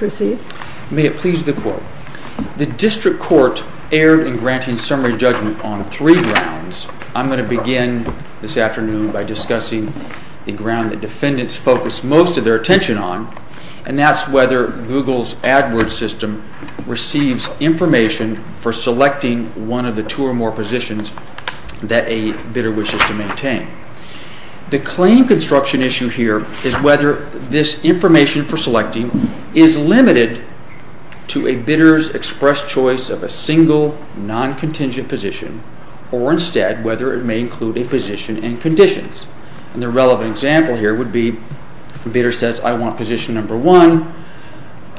May it please the Court. The District Court erred in granting summary judgment on three grounds. I'm going to begin this afternoon by discussing the ground that defendants focus most of their attention on, and that's whether Google's AdWords system receives information for selecting one of the two or more positions that a bidder wishes to maintain. The claim construction issue here is whether this information for selecting is limited to a bidder's expressed choice of a single, non-contingent position, or instead whether it may include a position and conditions. And the relevant example here would be the bidder says, I want position number one,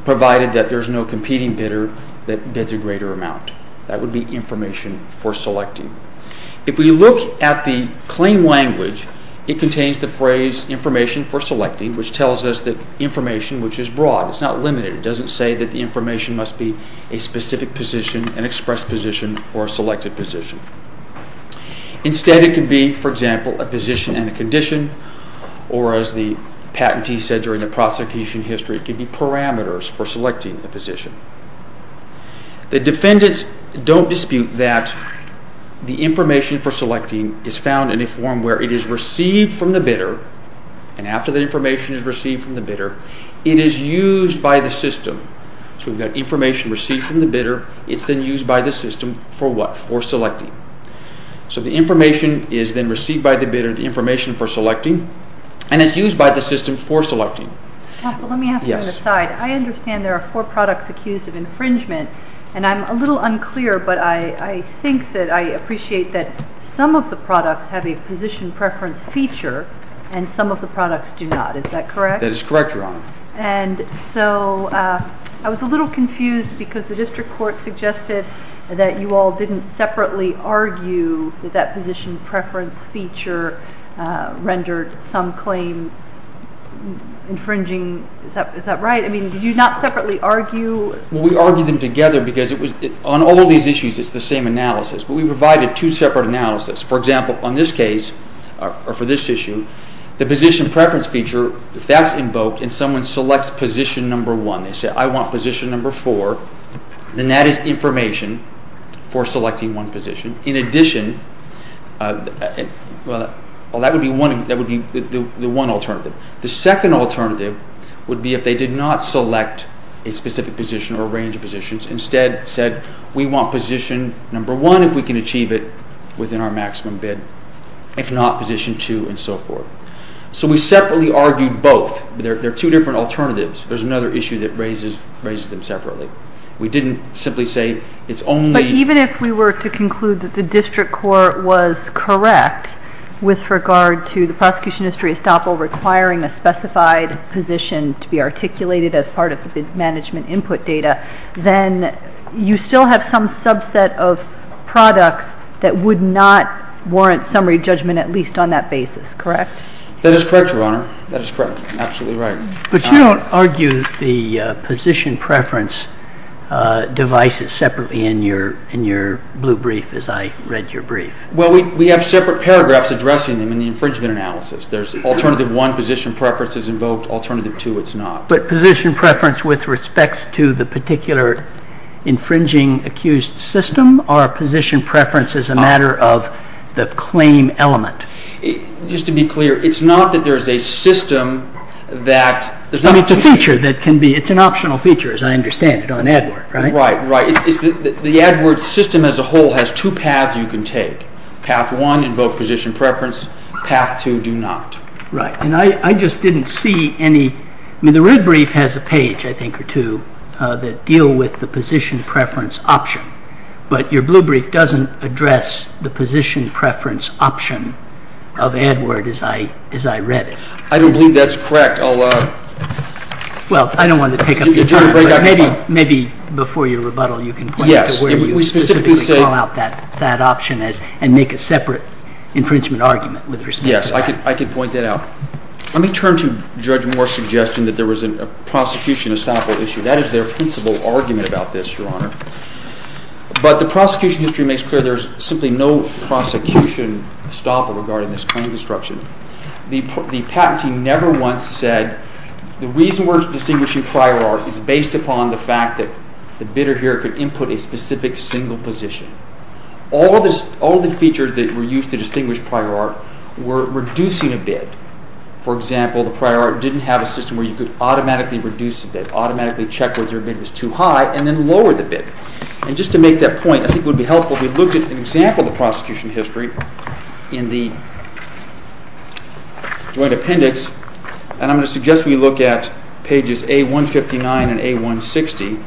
provided that there's no competing bidder that bids a greater amount. That would be information for selecting. If we look at the claim language, it contains the phrase information for selecting, which tells us that information, which is broad, is not limited. It doesn't say that the information must be a specific position, an expressed position, or a selected position. Instead it could be, for example, a position and a condition, or as the patentee said during the prosecution history, it could be parameters for selecting a position. The defendants don't dispute that the information for selecting is found in a form where it is received from the bidder, and after the information is received from the bidder, it is used by the system. So we've got information received from the bidder, it's then used by the system for what? For selecting. So the information is then received by the bidder, the information for selecting, and it's used by the system for selecting. Let me ask you on the side. I understand there are four products accused of infringement, and I'm a little unclear, but I think that I appreciate that some of the products have a position preference feature, and some of the products do not. Is that correct? That is correct, Your Honor. And so I was a little confused because the district court suggested that you all didn't separately argue that that position preference feature rendered some claims infringement infringing. Is that right? I mean, did you not separately argue? We argued them together because on all these issues it's the same analysis, but we provided two separate analyses. For example, on this case, or for this issue, the position preference feature, if that's invoked and someone selects position number one, they say, I want position number four, then that is information for selecting one position. In addition, well, that would be the one alternative. The second alternative would be if they did not select a specific position or a range of positions, instead said, we want position number one if we can achieve it within our maximum bid, if not, position two, and so forth. So we separately argued both. They're two different alternatives. There's another issue that raises them separately. We didn't simply say it's only... With regard to the prosecution history estoppel requiring a specified position to be articulated as part of the management input data, then you still have some subset of products that would not warrant summary judgment, at least on that basis, correct? That is correct, Your Honor. That is correct. Absolutely right. But you don't argue the position preference devices separately in your blue brief as I have separate paragraphs addressing them in the infringement analysis. There's alternative one, position preference is invoked. Alternative two, it's not. But position preference with respect to the particular infringing accused system, or position preference as a matter of the claim element? Just to be clear, it's not that there's a system that... It's a feature that can be... It's an optional feature, as I understand it, on AdWords, right? Right. The AdWords system as a whole has two paths you can take. Path one, invoke position preference. Path two, do not. Right. And I just didn't see any... The red brief has a page, I think, or two that deal with the position preference option. But your blue brief doesn't address the position preference option of AdWords as I read it. I don't believe that's correct. I'll... Well, I don't want to pick up your time, but maybe before your rebuttal you can point out where you specifically call out that option and make a separate infringement argument with respect to that. Yes, I could point that out. Let me turn to Judge Moore's suggestion that there was a prosecution estoppel issue. That is their principal argument about this, Your Honor. But the prosecution history makes clear there's simply no prosecution estoppel regarding this claim of destruction. The patent team never once said the reason we're distinguishing prior art is based upon the fact that the bidder here could input a specific single position. All the features that were used to distinguish prior art were reducing a bid. For example, the prior art didn't have a system where you could automatically reduce a bid, automatically check whether a bid was too high, and then lower the bid. And just to make that point, I think it would be helpful if we looked at an example of the Joint Appendix, and I'm going to suggest we look at pages A159 and A160.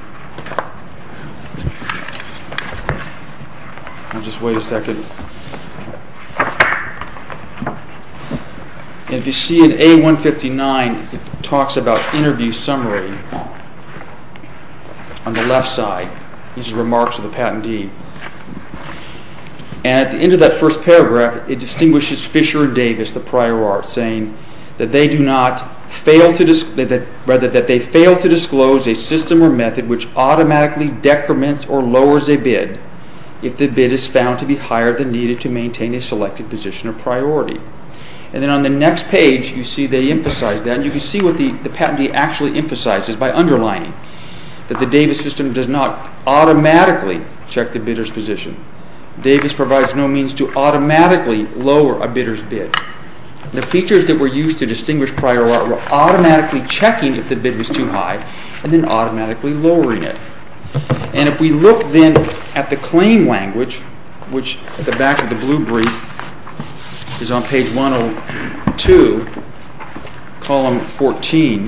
And if you see in A159, it talks about interview summary on the left side. These are remarks of the patentee. And at the end of that first paragraph, it distinguishes Fisher and Davis, the prior art, saying that they fail to disclose a system or method which automatically decrements or lowers a bid if the bid is found to be higher than needed to maintain a selected position or priority. And then on the next page, you see they emphasize that. And you can see what the patentee actually emphasizes by underlining that the Davis system does not automatically check the bidder's position. Davis provides no means to automatically lower a bidder's bid. The features that were used to distinguish prior art were automatically checking if the bid was too high and then automatically lowering it. And if we look then at the claim language, which at the back of the blue brief is on page 102, column 14,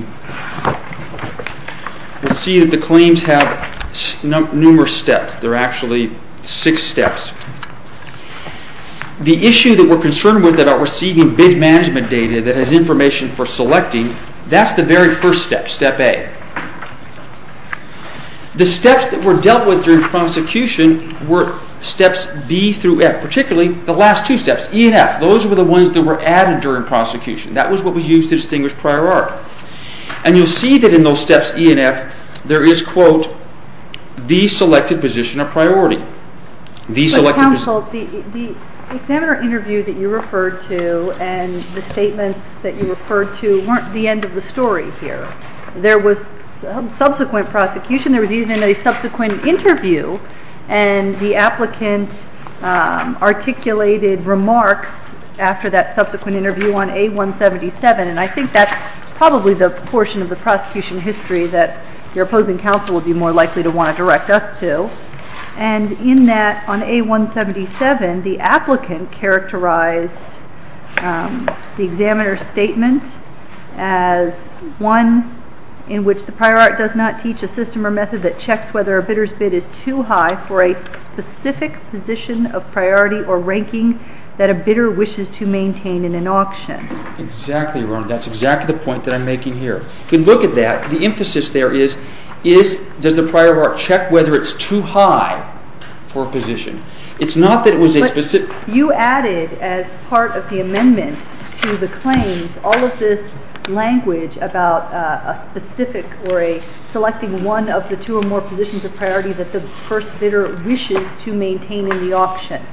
we'll see that the claims have numerous steps. There are actually six steps. The issue that we're concerned with about receiving bid management data that has information for selecting, that's the very first step, step A. The steps that were dealt with during prosecution were steps B through F, particularly the last two steps, E and F. Those were the ones that were added during prosecution. That was what was used to distinguish prior art. And you'll see that in those steps, E and F, there is, quote, the selected position or priority. But counsel, the examiner interview that you referred to and the statements that you referred to weren't the end of the story here. There was subsequent prosecution. There was even a subsequent interview on A177. And I think that's probably the portion of the prosecution history that your opposing counsel would be more likely to want to direct us to. And in that, on A177, the applicant characterized the examiner statement as one in which the prior art does not teach a system or method that checks whether a bidder's bid is too high for a specific position of priority or ranking that a bidder wishes to maintain in an auction. Exactly, Your Honor. That's exactly the point that I'm making here. If you look at that, the emphasis there is does the prior art check whether it's too high for a position? It's not that it was a specific... But you added, as part of the amendments to the claims, all of this language about a specific or a selecting one of the two or more positions of priority that the first bidder wishes to maintain in the auction.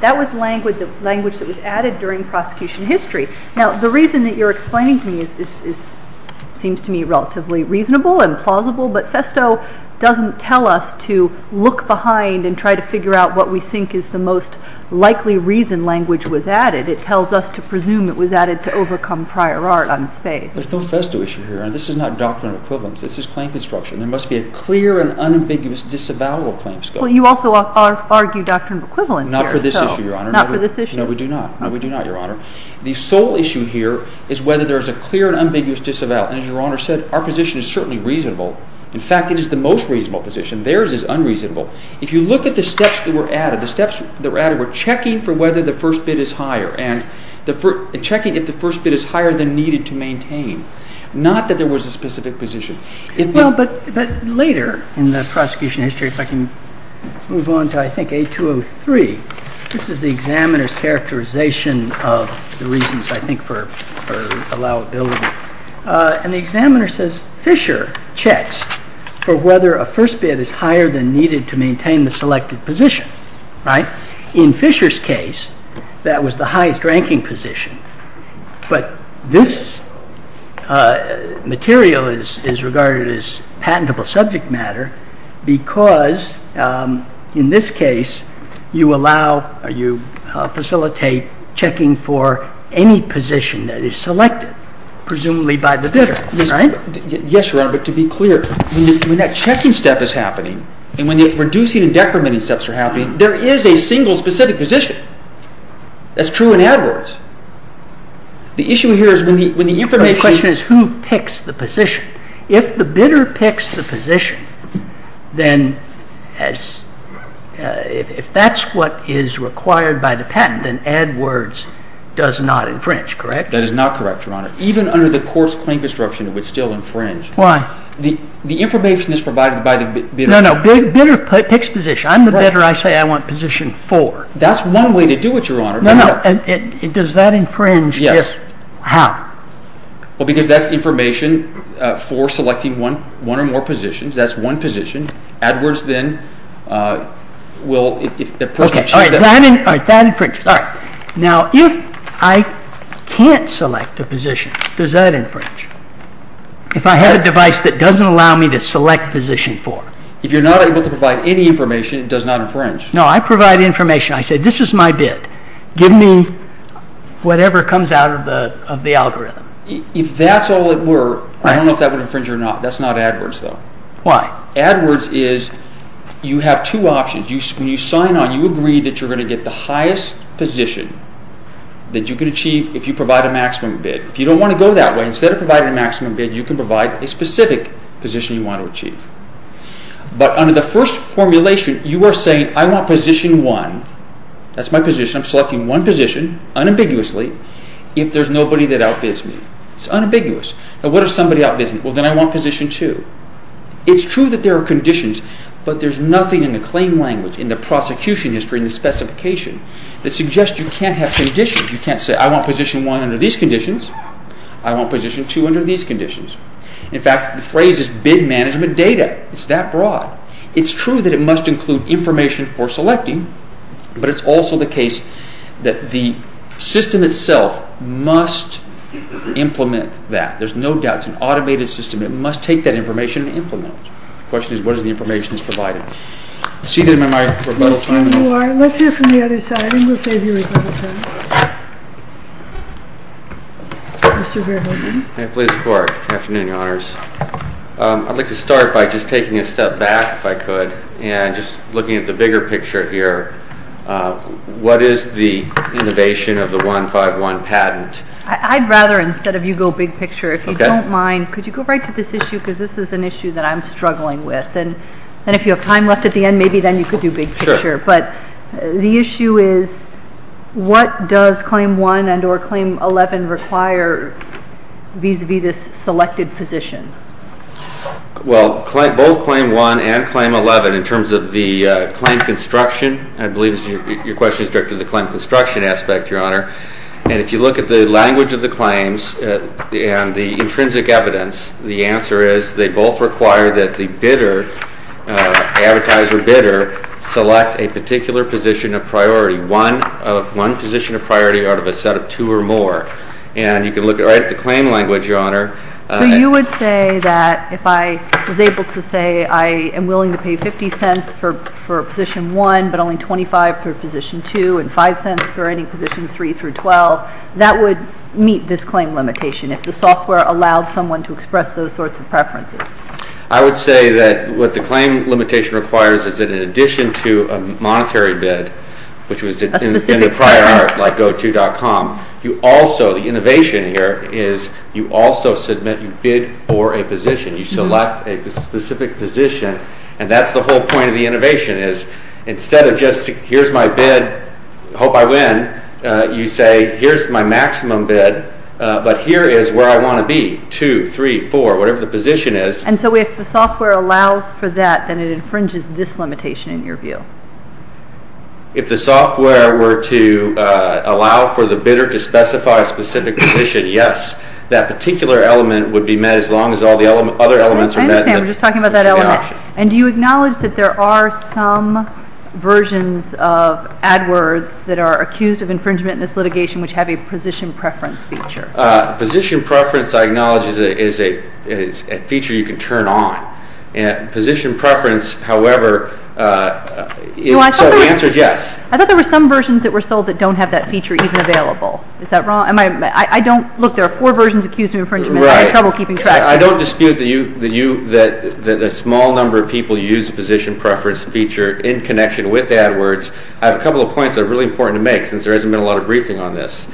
That was language that was added during prosecution history. Now, the reason that you're explaining to me seems to me relatively reasonable and plausible, but Festo doesn't tell us to look behind and try to figure out what we think is the most likely reason language was added. It tells us to presume it was added to overcome prior art on its face. There's no Festo issue here. This is not an ambiguous disavowal claim scope. Well, you also argue doctrine of equivalent here. Not for this issue, Your Honor. Not for this issue? No, we do not. No, we do not, Your Honor. The sole issue here is whether there is a clear and ambiguous disavowal. As Your Honor said, our position is certainly reasonable. In fact, it is the most reasonable position. Theirs is unreasonable. If you look at the steps that were added, the steps that were added were checking for whether the first bid is higher and checking if the first bid is higher than needed to maintain. Not that there was a specific position. Well, but later in the prosecution history, if I can move on to, I think, 8203, this is the examiner's characterization of the reasons, I think, for allowability. And the examiner says Fisher checks for whether a first bid is higher than needed to maintain the selected position, right? In Fisher's case, that was the highest ranking position. But this material is regarded as patentable subject matter because in this case, you allow or you facilitate checking for any position that is selected, presumably by the bidder, right? Yes, Your Honor, but to be clear, when that checking step is happening and when the reducing and decrementing steps are happening, there is a single specific position. That's true in AdWords. The issue here is when the information... The question is who picks the position. If the bidder picks the position, then if that's what is required by the patent, then AdWords does not infringe, correct? That is not correct, Your Honor. Even under the court's claim construction, it would still infringe. Why? The information is provided by the bidder. No, no. The bidder picks position. I'm the bidder. I say I want position 4. That's one way to do it, Your Honor. No, no. Does that infringe? Yes. How? Well, because that's information for selecting one or more positions. That's one position. AdWords then will... Okay, that infringes. Now, if I can't select a position, does that infringe? If I had a device that doesn't allow me to select position 4. If you're not able to provide any information, it does not infringe. No, I provide information. I say this is my bid. Give me whatever comes out of the algorithm. If that's all it were, I don't know if that would infringe or not. That's not AdWords though. Why? AdWords is you have two options. When you sign on, you agree that you're going to get the highest position that you can achieve if you provide a maximum bid. If you don't want to go that way, instead of providing a specific position you want to achieve. But under the first formulation, you are saying, I want position 1. That's my position. I'm selecting one position, unambiguously, if there's nobody that outbids me. It's unambiguous. Now, what if somebody outbids me? Well, then I want position 2. It's true that there are conditions, but there's nothing in the claim language, in the prosecution history, in the specification, that suggests you can't have conditions. You can't say, I want position 1 under these conditions. In fact, the phrase is bid management data. It's that broad. It's true that it must include information for selecting, but it's also the case that the system itself must implement that. There's no doubt. It's an automated system. It must take that information and implement it. The question is, what is the information that's provided? Let's hear from the other side, and we'll save you rebuttal time. Mr. Verhoeven. May it please the Court. Good afternoon, Your Honors. I'd like to start by just taking a step back, if I could, and just looking at the bigger picture here. What is the innovation of the 151 patent? I'd rather, instead of you go big picture, if you don't mind, could you go right to this issue? Because this is an issue that I'm interested in. If we have some time left at the end, maybe then you could do big picture. But the issue is, what does Claim 1 and or Claim 11 require vis-à-vis this selected position? Well, both Claim 1 and Claim 11, in terms of the claim construction, I believe your question is directed to the claim construction aspect, Your Honor. And if you look at the language of the claims and the intrinsic evidence, the answer is they both require that the advertiser bidder select a particular position of priority, one position of priority out of a set of two or more. And you can look right at the claim language, Your Honor. So you would say that if I was able to say I am willing to pay $0.50 for position 1, but only $0.25 for position 2, and $0.05 for any position 3 through 12, that would meet this claim limitation, if the software allowed someone to express those sorts of preferences? I would say that what the claim limitation requires is that in addition to a monetary bid, which was in the prior art, like GoTo.com, you also, the innovation here, is you also submit, you bid for a position. You select a specific position, and that's the whole point of the innovation, is instead of just, here's my bid, hope I win, you say, here's my maximum bid, but here is where I want to be, 2, 3, 4, whatever the bid is. And so if the software allows for that, then it infringes this limitation, in your view? If the software were to allow for the bidder to specify a specific position, yes, that particular element would be met as long as all the other elements are met. I understand. We're just talking about that element. And do you acknowledge that there are some versions of AdWords that are accused of infringement in this litigation which have a position preference feature? Position preference, I acknowledge, is a feature you can turn on. Position preference, however, the answer is yes. I thought there were some versions that were sold that don't have that feature even available. Is that wrong? Look, there are four versions accused of infringement. I'm having trouble keeping track. I don't dispute that a small number of people use the position preference feature in connection with AdWords. I have a couple of points that are really important to make since there hasn't been a lot of briefing on this.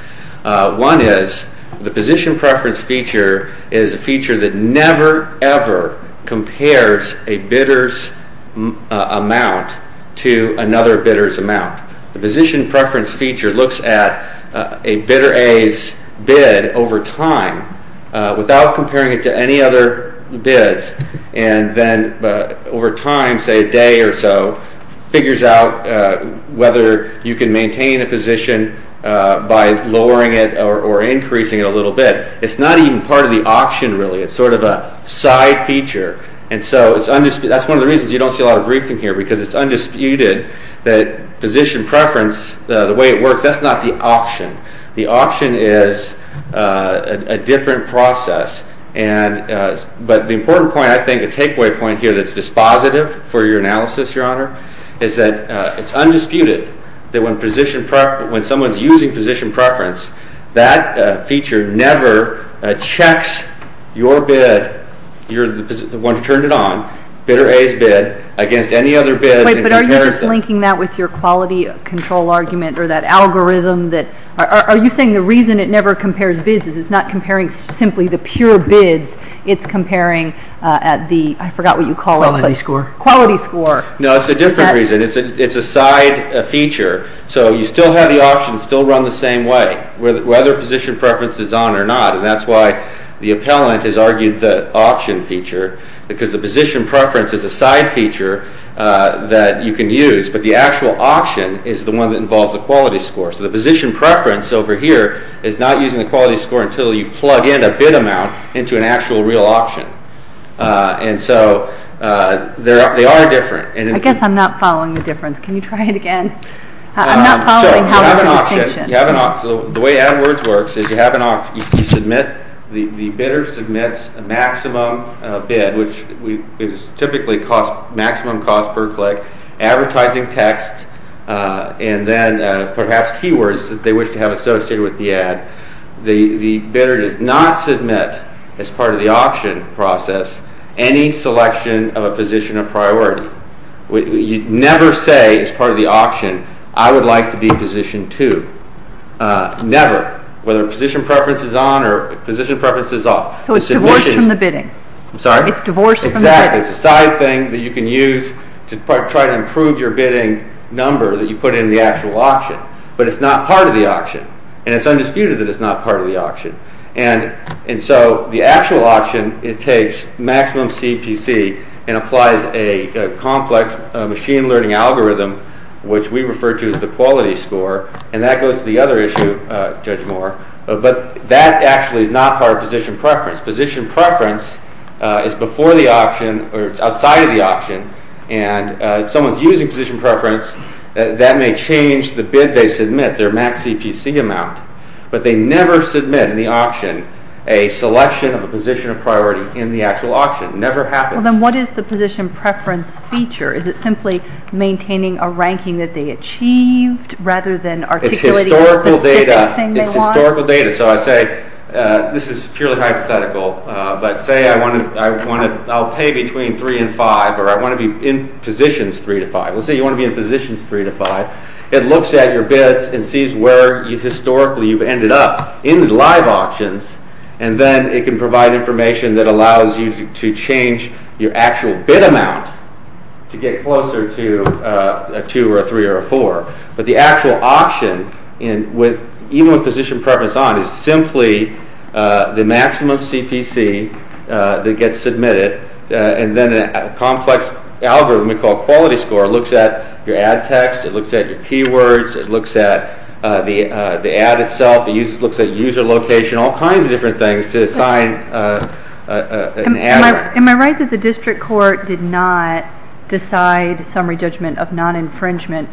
One is the position preference feature is a feature that never, ever compares a bidder's amount to another bidder's amount. The position preference feature looks at a bidder A's bid over time without comparing it to any other bids and then over time, say a day or so, figures out whether you can maintain a position by lowering it or increasing it a little bit. It's not even part of the auction really. It's sort of a side feature. And so that's one of the reasons you don't see a lot of briefing here because it's undisputed that position preference, the way it works, that's not the auction. The auction is a different process. But the important point, I think, a takeaway point here that's dispositive for your analysis, Your Honor, is that it's undisputed that when someone's using position preference, that feature never checks your bid, you're the one who turned it on, bidder A's bid, against any other bids and compares them. Wait, but are you just linking that with your quality control argument or that algorithm? Are you saying the reason it never compares bids is it's not comparing simply the pure bids? It's comparing at the, I forgot what you call it. Quality score. Quality score. No, it's a different reason. It's a side feature. So you still have the option, still run the same way, whether position preference is on or not, and that's why the appellant has argued the auction feature because the position preference is a side feature that you can use, but the actual auction is the one that involves the quality score. So the position preference over here is not using the quality score until you plug in a bid amount into an actual real auction. And so they are different. I guess I'm not following the difference. Can you try it again? I'm not following how it's distinction. So you have an auction. The way AdWords works is you have an auction. The bidder submits a maximum bid, which is typically maximum cost per click, advertising text, and then perhaps keywords that they wish to have associated with the ad. The bidder does not submit, as part of the auction process, any selection of a position of priority. You never say, as part of the auction, I would like to be position two. Never. Whether position preference is on or position preference is off. So it's divorced from the bidding. I'm sorry? It's divorced from the bidding. Exactly. It's a side thing that you can use to try to improve your bidding number that you put in the actual auction, but it's not part of the auction, and it's undisputed that it's not part of the auction. And so the actual auction, it takes maximum CPC and applies a complex machine learning algorithm, which we refer to as the quality score, and that goes to the other issue, Judge Moore, but that actually is not part of position preference. Position preference is before the auction or it's outside of the auction, and if someone's using position preference, that may change the bid they submit, their max CPC amount, but they never submit in the auction a selection of a position of priority in the actual auction. It never happens. Well, then what is the position preference feature? Is it simply maintaining a ranking that they achieved rather than articulating a specific thing they want? It's historical data. It's historical data. So I say this is purely hypothetical, but say I'll pay between 3 and 5 or I want to be in positions 3 to 5. Let's say you want to be in positions 3 to 5. It looks at your bids and sees where historically you've ended up in the live auctions, and then it can provide information that allows you to change your actual bid amount to get closer to a 2 or a 3 or a 4, but the actual auction, even with position preference on, is simply the maximum CPC that gets submitted, and then a complex algorithm we call quality score. It looks at your ad text. It looks at your keywords. It looks at the ad itself. It looks at user location, all kinds of different things to assign an ad. Am I right that the district court did not decide summary judgment of non-infringement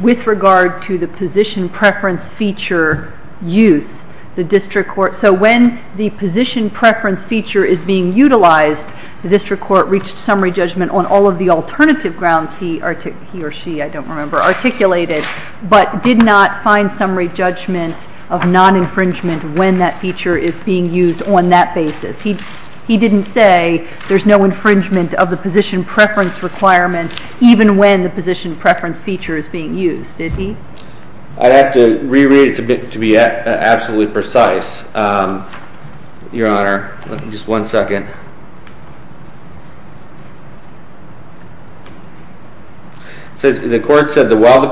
with regard to the position preference feature use? So when the position preference feature is being utilized, the district court reached summary judgment on all of the alternative grounds he or she, I don't remember, articulated, but did not find summary judgment of non-infringement when that feature is being used on that basis. He didn't say there's no infringement of the position preference requirement even when the position preference feature is being used, did he? I'd have to reread it to be absolutely precise, Your Honor. Just one second. It says the court said that while the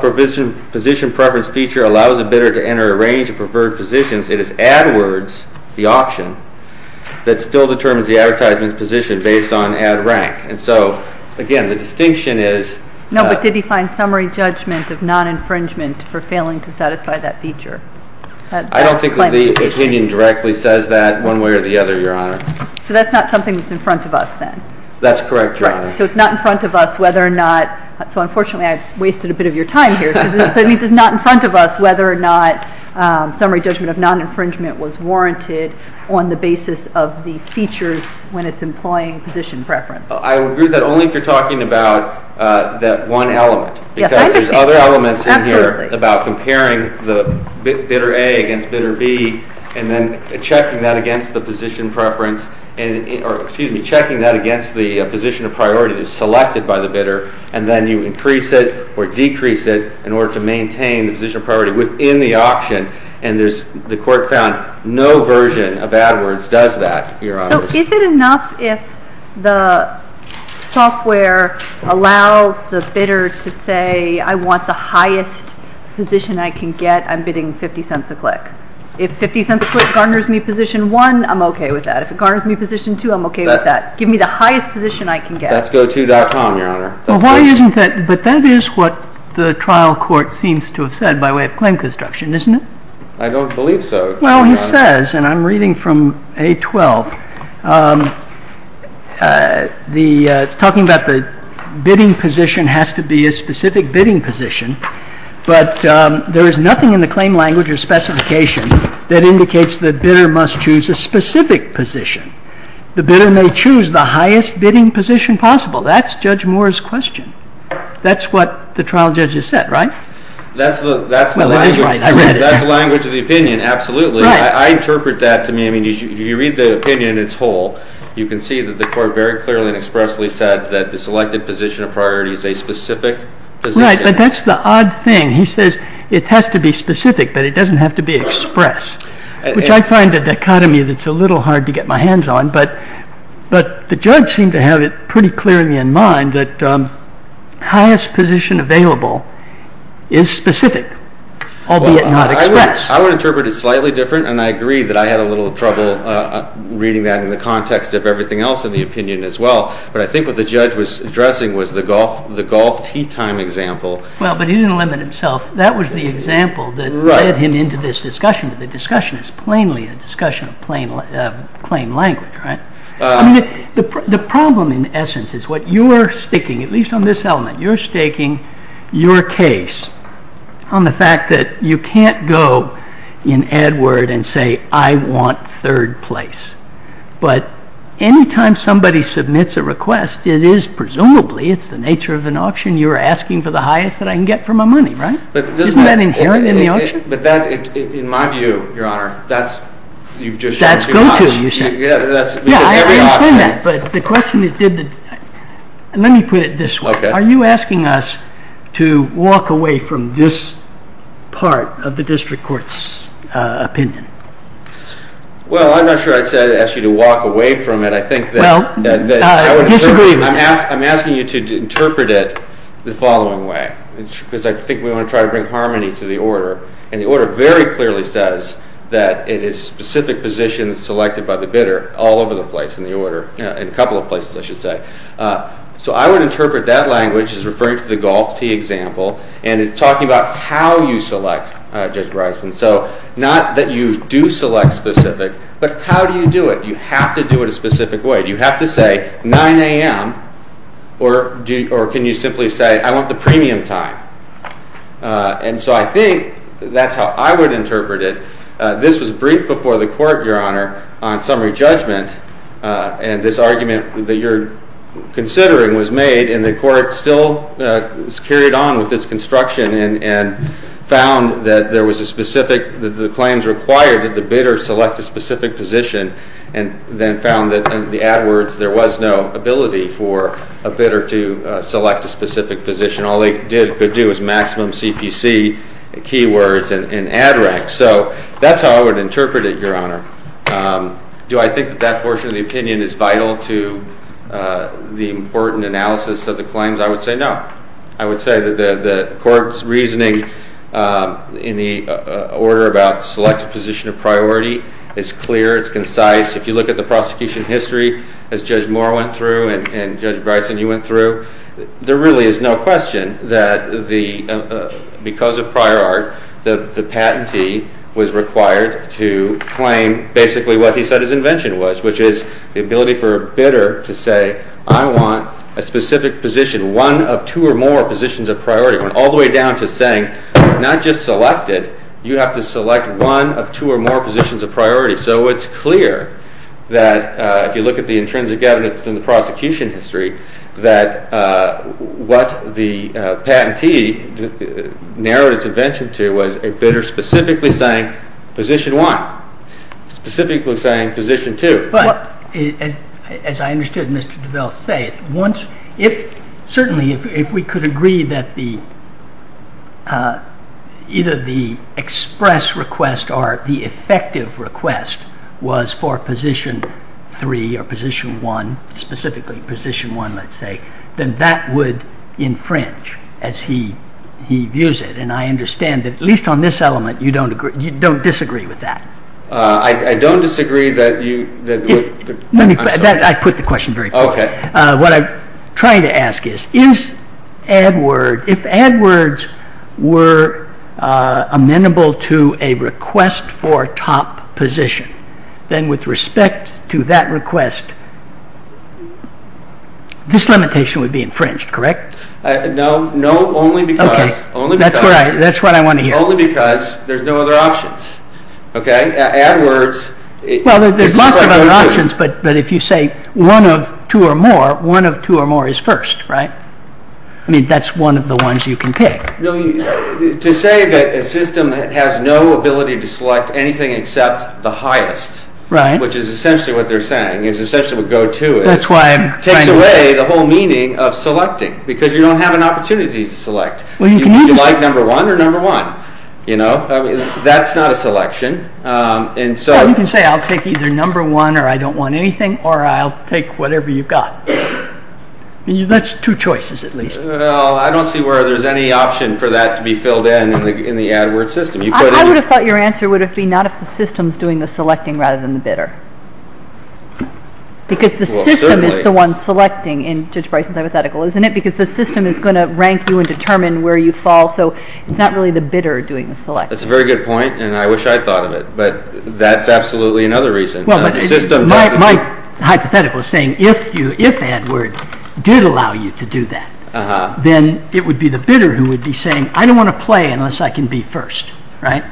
position preference feature allows a bidder to enter a range of preferred positions, it is ad words, the auction, that still determines the advertisement's position based on ad rank. And so, again, the distinction is that ---- No, but did he find summary judgment of non-infringement for failing to satisfy that feature? I don't think that the opinion directly says that one way or the other, Your Honor. So that's not something that's in front of us then? That's correct, Your Honor. Right. So it's not in front of us whether or not, so unfortunately I've wasted a bit of your time here, but it's not in front of us whether or not summary judgment of non-infringement was warranted on the basis of the features when it's employing position preference. I would agree that only if you're talking about that one element. Yes, I understand. Because there's other elements in here about comparing the bidder A against bidder B and then checking that against the position of priority that is selected by the bidder and then you increase it or decrease it in order to maintain the position of priority within the auction. And the court found no version of ad words does that, Your Honor. So is it enough if the software allows the bidder to say, I want the highest position I can get, I'm bidding 50 cents a click. If 50 cents a click garners me position one, I'm okay with that. If it garners me position two, I'm okay with that. Give me the highest position I can get. That's goto.com, Your Honor. But that is what the trial court seems to have said by way of claim construction, isn't it? I don't believe so. Well, he says, and I'm reading from A12, talking about the bidding position has to be a specific bidding position. But there is nothing in the claim language or specification that indicates the bidder must choose a specific position. The bidder may choose the highest bidding position possible. That's Judge Moore's question. That's what the trial judge has said, right? That's the language of the opinion. Absolutely. I interpret that to mean, if you read the opinion, it's whole. You can see that the court very clearly and expressly said that the selected position of priority is a specific position. Right. But that's the odd thing. He says it has to be specific, but it doesn't have to be express, which I find a dichotomy that's a little hard to get my hands on. But the judge seemed to have it pretty clearly in mind that highest position available is specific, albeit not express. I would interpret it slightly different, and I agree that I had a little trouble reading that in the context of everything else in the opinion as well. But I think what the judge was addressing was the golf tee time example. Well, but he didn't limit himself. That was the example that led him into this discussion. The discussion is plainly a discussion of claim language, right? The problem, in essence, is what you're staking, at least on this element, you're staking your case on the fact that you can't go in AdWord and say, I want third place. But any time somebody submits a request, it is presumably, it's the nature of an auction, you're asking for the highest that I can get for my money, right? Isn't that inherent in the auction? But that, in my view, Your Honor, that's you've just shown too much. That's go-to, you said. I understand that, but the question is, let me put it this way. Are you asking us to walk away from this part of the district court's opinion? Well, I'm not sure I'd ask you to walk away from it. Well, I disagree with you. I'm asking you to interpret it the following way, because I think we want to try to bring harmony to the order. And the order very clearly says that it is a specific position that's selected by the bidder all over the place in the order, in a couple of places, I should say. So I would interpret that language as referring to the golf tee example, and it's talking about how you select, Judge Bryson. So not that you do select specific, but how do you do it? Do you have to do it a specific way? Do you have to say 9 a.m., or can you simply say, I want the premium time? And so I think that's how I would interpret it. This was briefed before the court, Your Honor, on summary judgment, and this argument that you're considering was made, and the court still carried on with its construction and found that there was a specific, that the claims required that the bidder select a specific position, and then found that in the AdWords there was no ability for a bidder to select a specific position. All they could do was maximum CPC keywords in AdRec. So that's how I would interpret it, Your Honor. Do I think that that portion of the opinion is vital to the important analysis of the claims? I would say no. I would say that the court's reasoning in the order about the selected position of priority is clear. It's concise. If you look at the prosecution history, as Judge Moore went through and Judge Bryson, you went through, there really is no question that because of prior art, the patentee was required to claim basically what he said his invention was, which is the ability for a bidder to say, I want a specific position, one of two or more positions of priority. It went all the way down to saying, not just selected, you have to select one of two or more positions of priority. So it's clear that if you look at the intrinsic evidence in the prosecution history, that what the patentee narrowed its invention to was a bidder specifically saying position one, specifically saying position two. But as I understood Mr. DeVos say, certainly if we could agree that either the express request or the effective request was for position three or position one, specifically position one, let's say, then that would infringe as he views it. And I understand that, at least on this element, you don't disagree with that. I don't disagree that you... I put the question very clearly. Okay. What I'm trying to ask is, if AdWords were amenable to a request for top position, then with respect to that request, this limitation would be infringed, correct? No, only because... Okay, that's what I want to hear. Only because there's no other options, okay? AdWords... Well, there's lots of other options, but if you say one of two or more, one of two or more is first, right? I mean, that's one of the ones you can pick. To say that a system has no ability to select anything except the highest, which is essentially what they're saying, is essentially what GoTo is, takes away the whole meaning of selecting, because you don't have an opportunity to select. Would you like number one or number one, you know? That's not a selection, and so... Well, you can say, I'll pick either number one or I don't want anything, or I'll pick whatever you've got. That's two choices, at least. Well, I don't see where there's any option for that to be filled in in the AdWords system. I would have thought your answer would have been not if the system's doing the selecting rather than the bidder. Because the system is the one selecting in Judge Bryson's hypothetical, isn't it? Because the system is going to rank you and determine where you fall, so it's not really the bidder doing the selecting. That's a very good point, and I wish I'd thought of it. But that's absolutely another reason. My hypothetical is saying, if AdWords did allow you to do that, then it would be the bidder who would be saying, I don't want to play unless I can be first, right?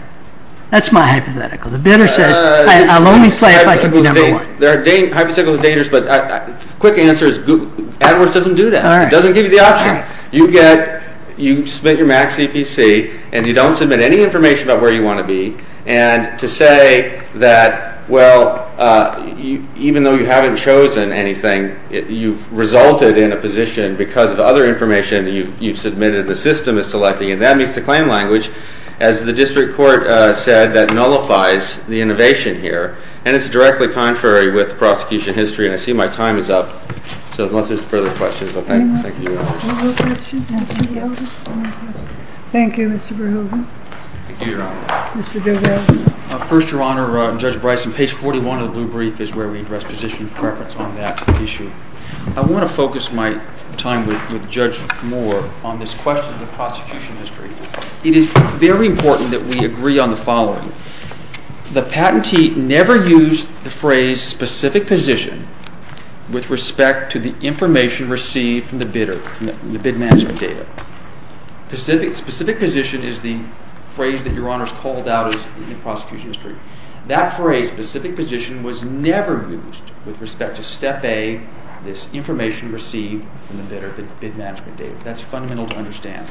That's my hypothetical. The bidder says, I'll only play if I can be number one. Hypotheticals are dangerous, but the quick answer is AdWords doesn't do that. It doesn't give you the option. You submit your max EPC, and you don't submit any information about where you want to be. And to say that, well, even though you haven't chosen anything, you've resulted in a position because of other information you've submitted the system is selecting, and that meets the claim language. As the district court said, that nullifies the innovation here. And it's directly contrary with prosecution history, and I see my time is up. So unless there's further questions, I'll thank you very much. Any more questions? Thank you, Mr. Verhoeven. Thank you, Your Honor. Mr. Bilbray. First, Your Honor, Judge Bryson, page 41 of the blue brief is where we address position preference on that issue. I want to focus my time with Judge Moore on this question of the prosecution history. It is very important that we agree on the following. The patentee never used the phrase specific position with respect to the information received from the bidder, from the bid management data. Specific position is the phrase that Your Honor has called out in the prosecution history. That phrase, specific position, was never used with respect to step A, this information received from the bidder, the bid management data. That's fundamental to understand.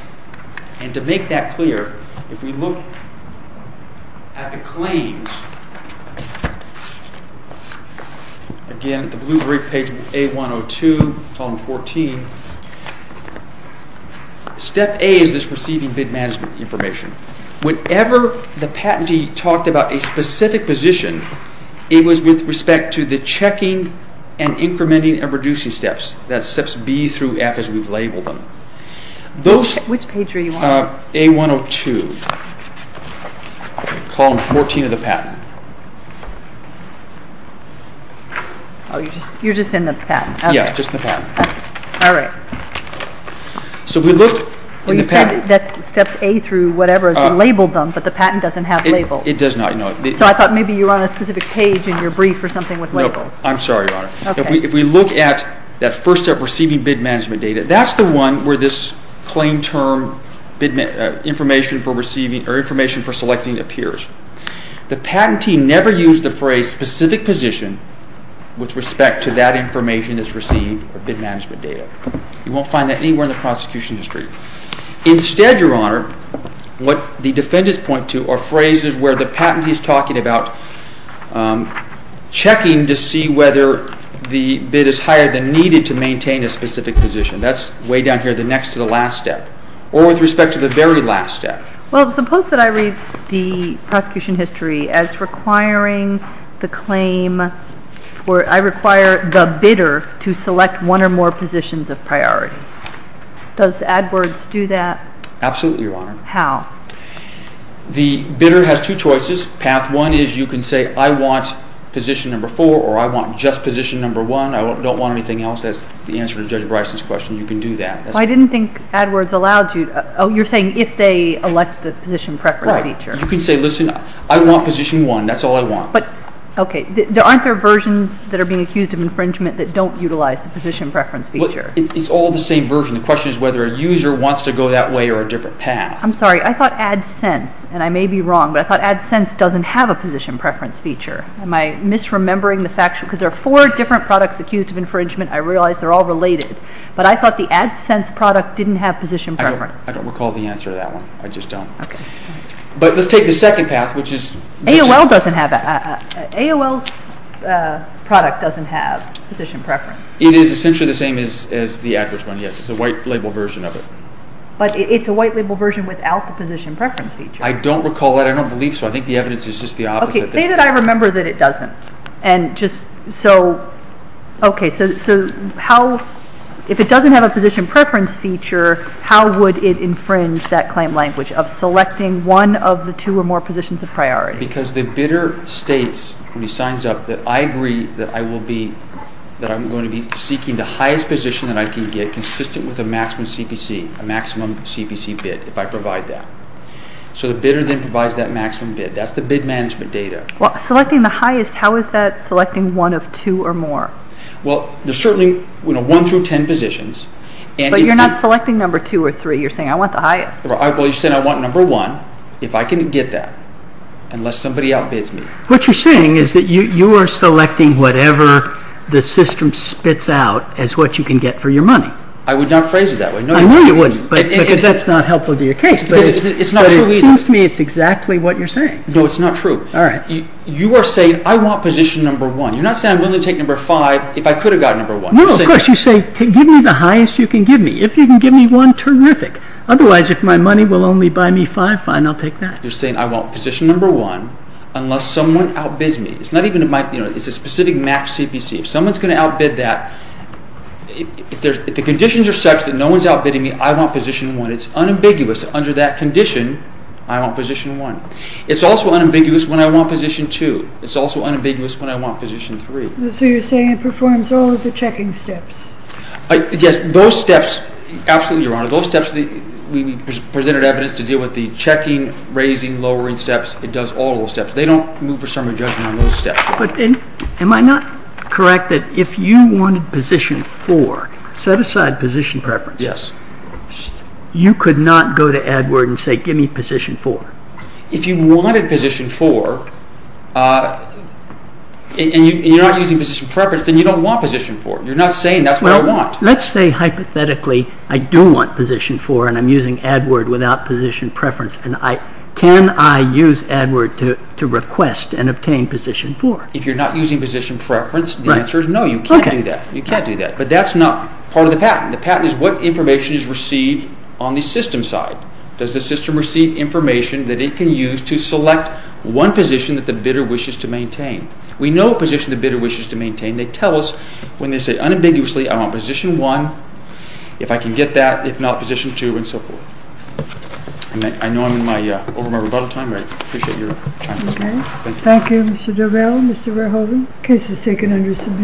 And to make that clear, if we look at the claims, again, the blue brief, page A-102, column 14, step A is this receiving bid management information. Whenever the patentee talked about a specific position, it was with respect to the checking and incrementing and reducing steps, that's steps B through F as we've labeled them. Which page are you on? A-102, column 14 of the patent. Oh, you're just in the patent. Yes, just in the patent. All right. So we looked in the patent. Well, you said that's step A through whatever as you labeled them, but the patent doesn't have labels. It does not. So I thought maybe you were on a specific page in your brief or something with labels. No, I'm sorry, Your Honor. If we look at that first step receiving bid management data, that's the one where this claim term information for receiving or information for selecting appears. The patentee never used the phrase specific position with respect to that information that's received, or bid management data. You won't find that anywhere in the prosecution history. Instead, Your Honor, what the defendants point to are phrases where the patentee is talking about checking to see whether the bid is higher than needed to maintain a specific position. That's way down here, the next to the last step, or with respect to the very last step. Well, suppose that I read the prosecution history as requiring the bidder to select one or more positions of priority. Does AdWords do that? Absolutely, Your Honor. How? The bidder has two choices. Path one is you can say, I want position number four, or I want just position number one. I don't want anything else. That's the answer to Judge Bryson's question. You can do that. I didn't think AdWords allowed you. Oh, you're saying if they elect the position preference feature. Right. You can say, listen, I want position one. That's all I want. Okay. Aren't there versions that are being accused of infringement that don't utilize the position preference feature? It's all the same version. The question is whether a user wants to go that way or a different path. I'm sorry. I thought AdSense, and I may be wrong, but I thought AdSense doesn't have a position preference feature. Am I misremembering the facts? Because there are four different products accused of infringement. I realize they're all related. But I thought the AdSense product didn't have position preference. I don't recall the answer to that one. I just don't. Okay. But let's take the second path, which is... AOL doesn't have... AOL's product doesn't have position preference. It is essentially the same as the AdWords one, yes. It's a white-label version of it. But it's a white-label version without the position preference feature. I don't recall that. I don't believe so. I think the evidence is just the opposite. Say that I remember that it doesn't. And just... So... Okay. So how... If it doesn't have a position preference feature, how would it infringe that claim language of selecting one of the two or more positions of priority? Because the bidder states, when he signs up, that I agree that I'm going to be seeking the highest position that I can get, consistent with a maximum CPC, a maximum CPC bid, if I provide that. So the bidder then provides that maximum bid. That's the bid management data. Well, selecting the highest, how is that selecting one of two or more? Well, there's certainly one through ten positions. But you're not selecting number two or three. You're saying I want the highest. Well, you're saying I want number one, if I can get that, unless somebody outbids me. What you're saying is that you are selecting whatever the system spits out as what you can get for your money. I would not phrase it that way. I know you wouldn't. Because that's not helpful to your case. It's not true either. No, it's not true. All right. You are saying I want position number one. You're not saying I'm willing to take number five if I could have gotten number one. No, of course. You say give me the highest you can give me. If you can give me one, terrific. Otherwise, if my money will only buy me five, fine, I'll take that. You're saying I want position number one unless someone outbids me. It's a specific max CPC. If someone's going to outbid that, if the conditions are such that no one's outbidding me, I want position one. But it's unambiguous under that condition, I want position one. It's also unambiguous when I want position two. It's also unambiguous when I want position three. So you're saying it performs all of the checking steps. Yes. Those steps, absolutely, Your Honor. Those steps we presented evidence to deal with the checking, raising, lowering steps. It does all of those steps. They don't move for summary judgment on those steps. But am I not correct that if you wanted position four, set aside position preference. Yes. You could not go to AdWord and say, give me position four. If you wanted position four and you're not using position preference, then you don't want position four. You're not saying that's what I want. Let's say, hypothetically, I do want position four and I'm using AdWord without position preference. Can I use AdWord to request and obtain position four? If you're not using position preference, the answer is no, you can't do that. You can't do that. But that's not part of the patent. The patent is what information is received on the system side. Does the system receive information that it can use to select one position that the bidder wishes to maintain? We know a position the bidder wishes to maintain. They tell us when they say unambiguously, I want position one. If I can get that, if not, position two and so forth. I know I'm over my rebuttal time. I appreciate your time. Thank you. Thank you, Mr. Durrell. Mr. Verhoeven, case is taken under submission.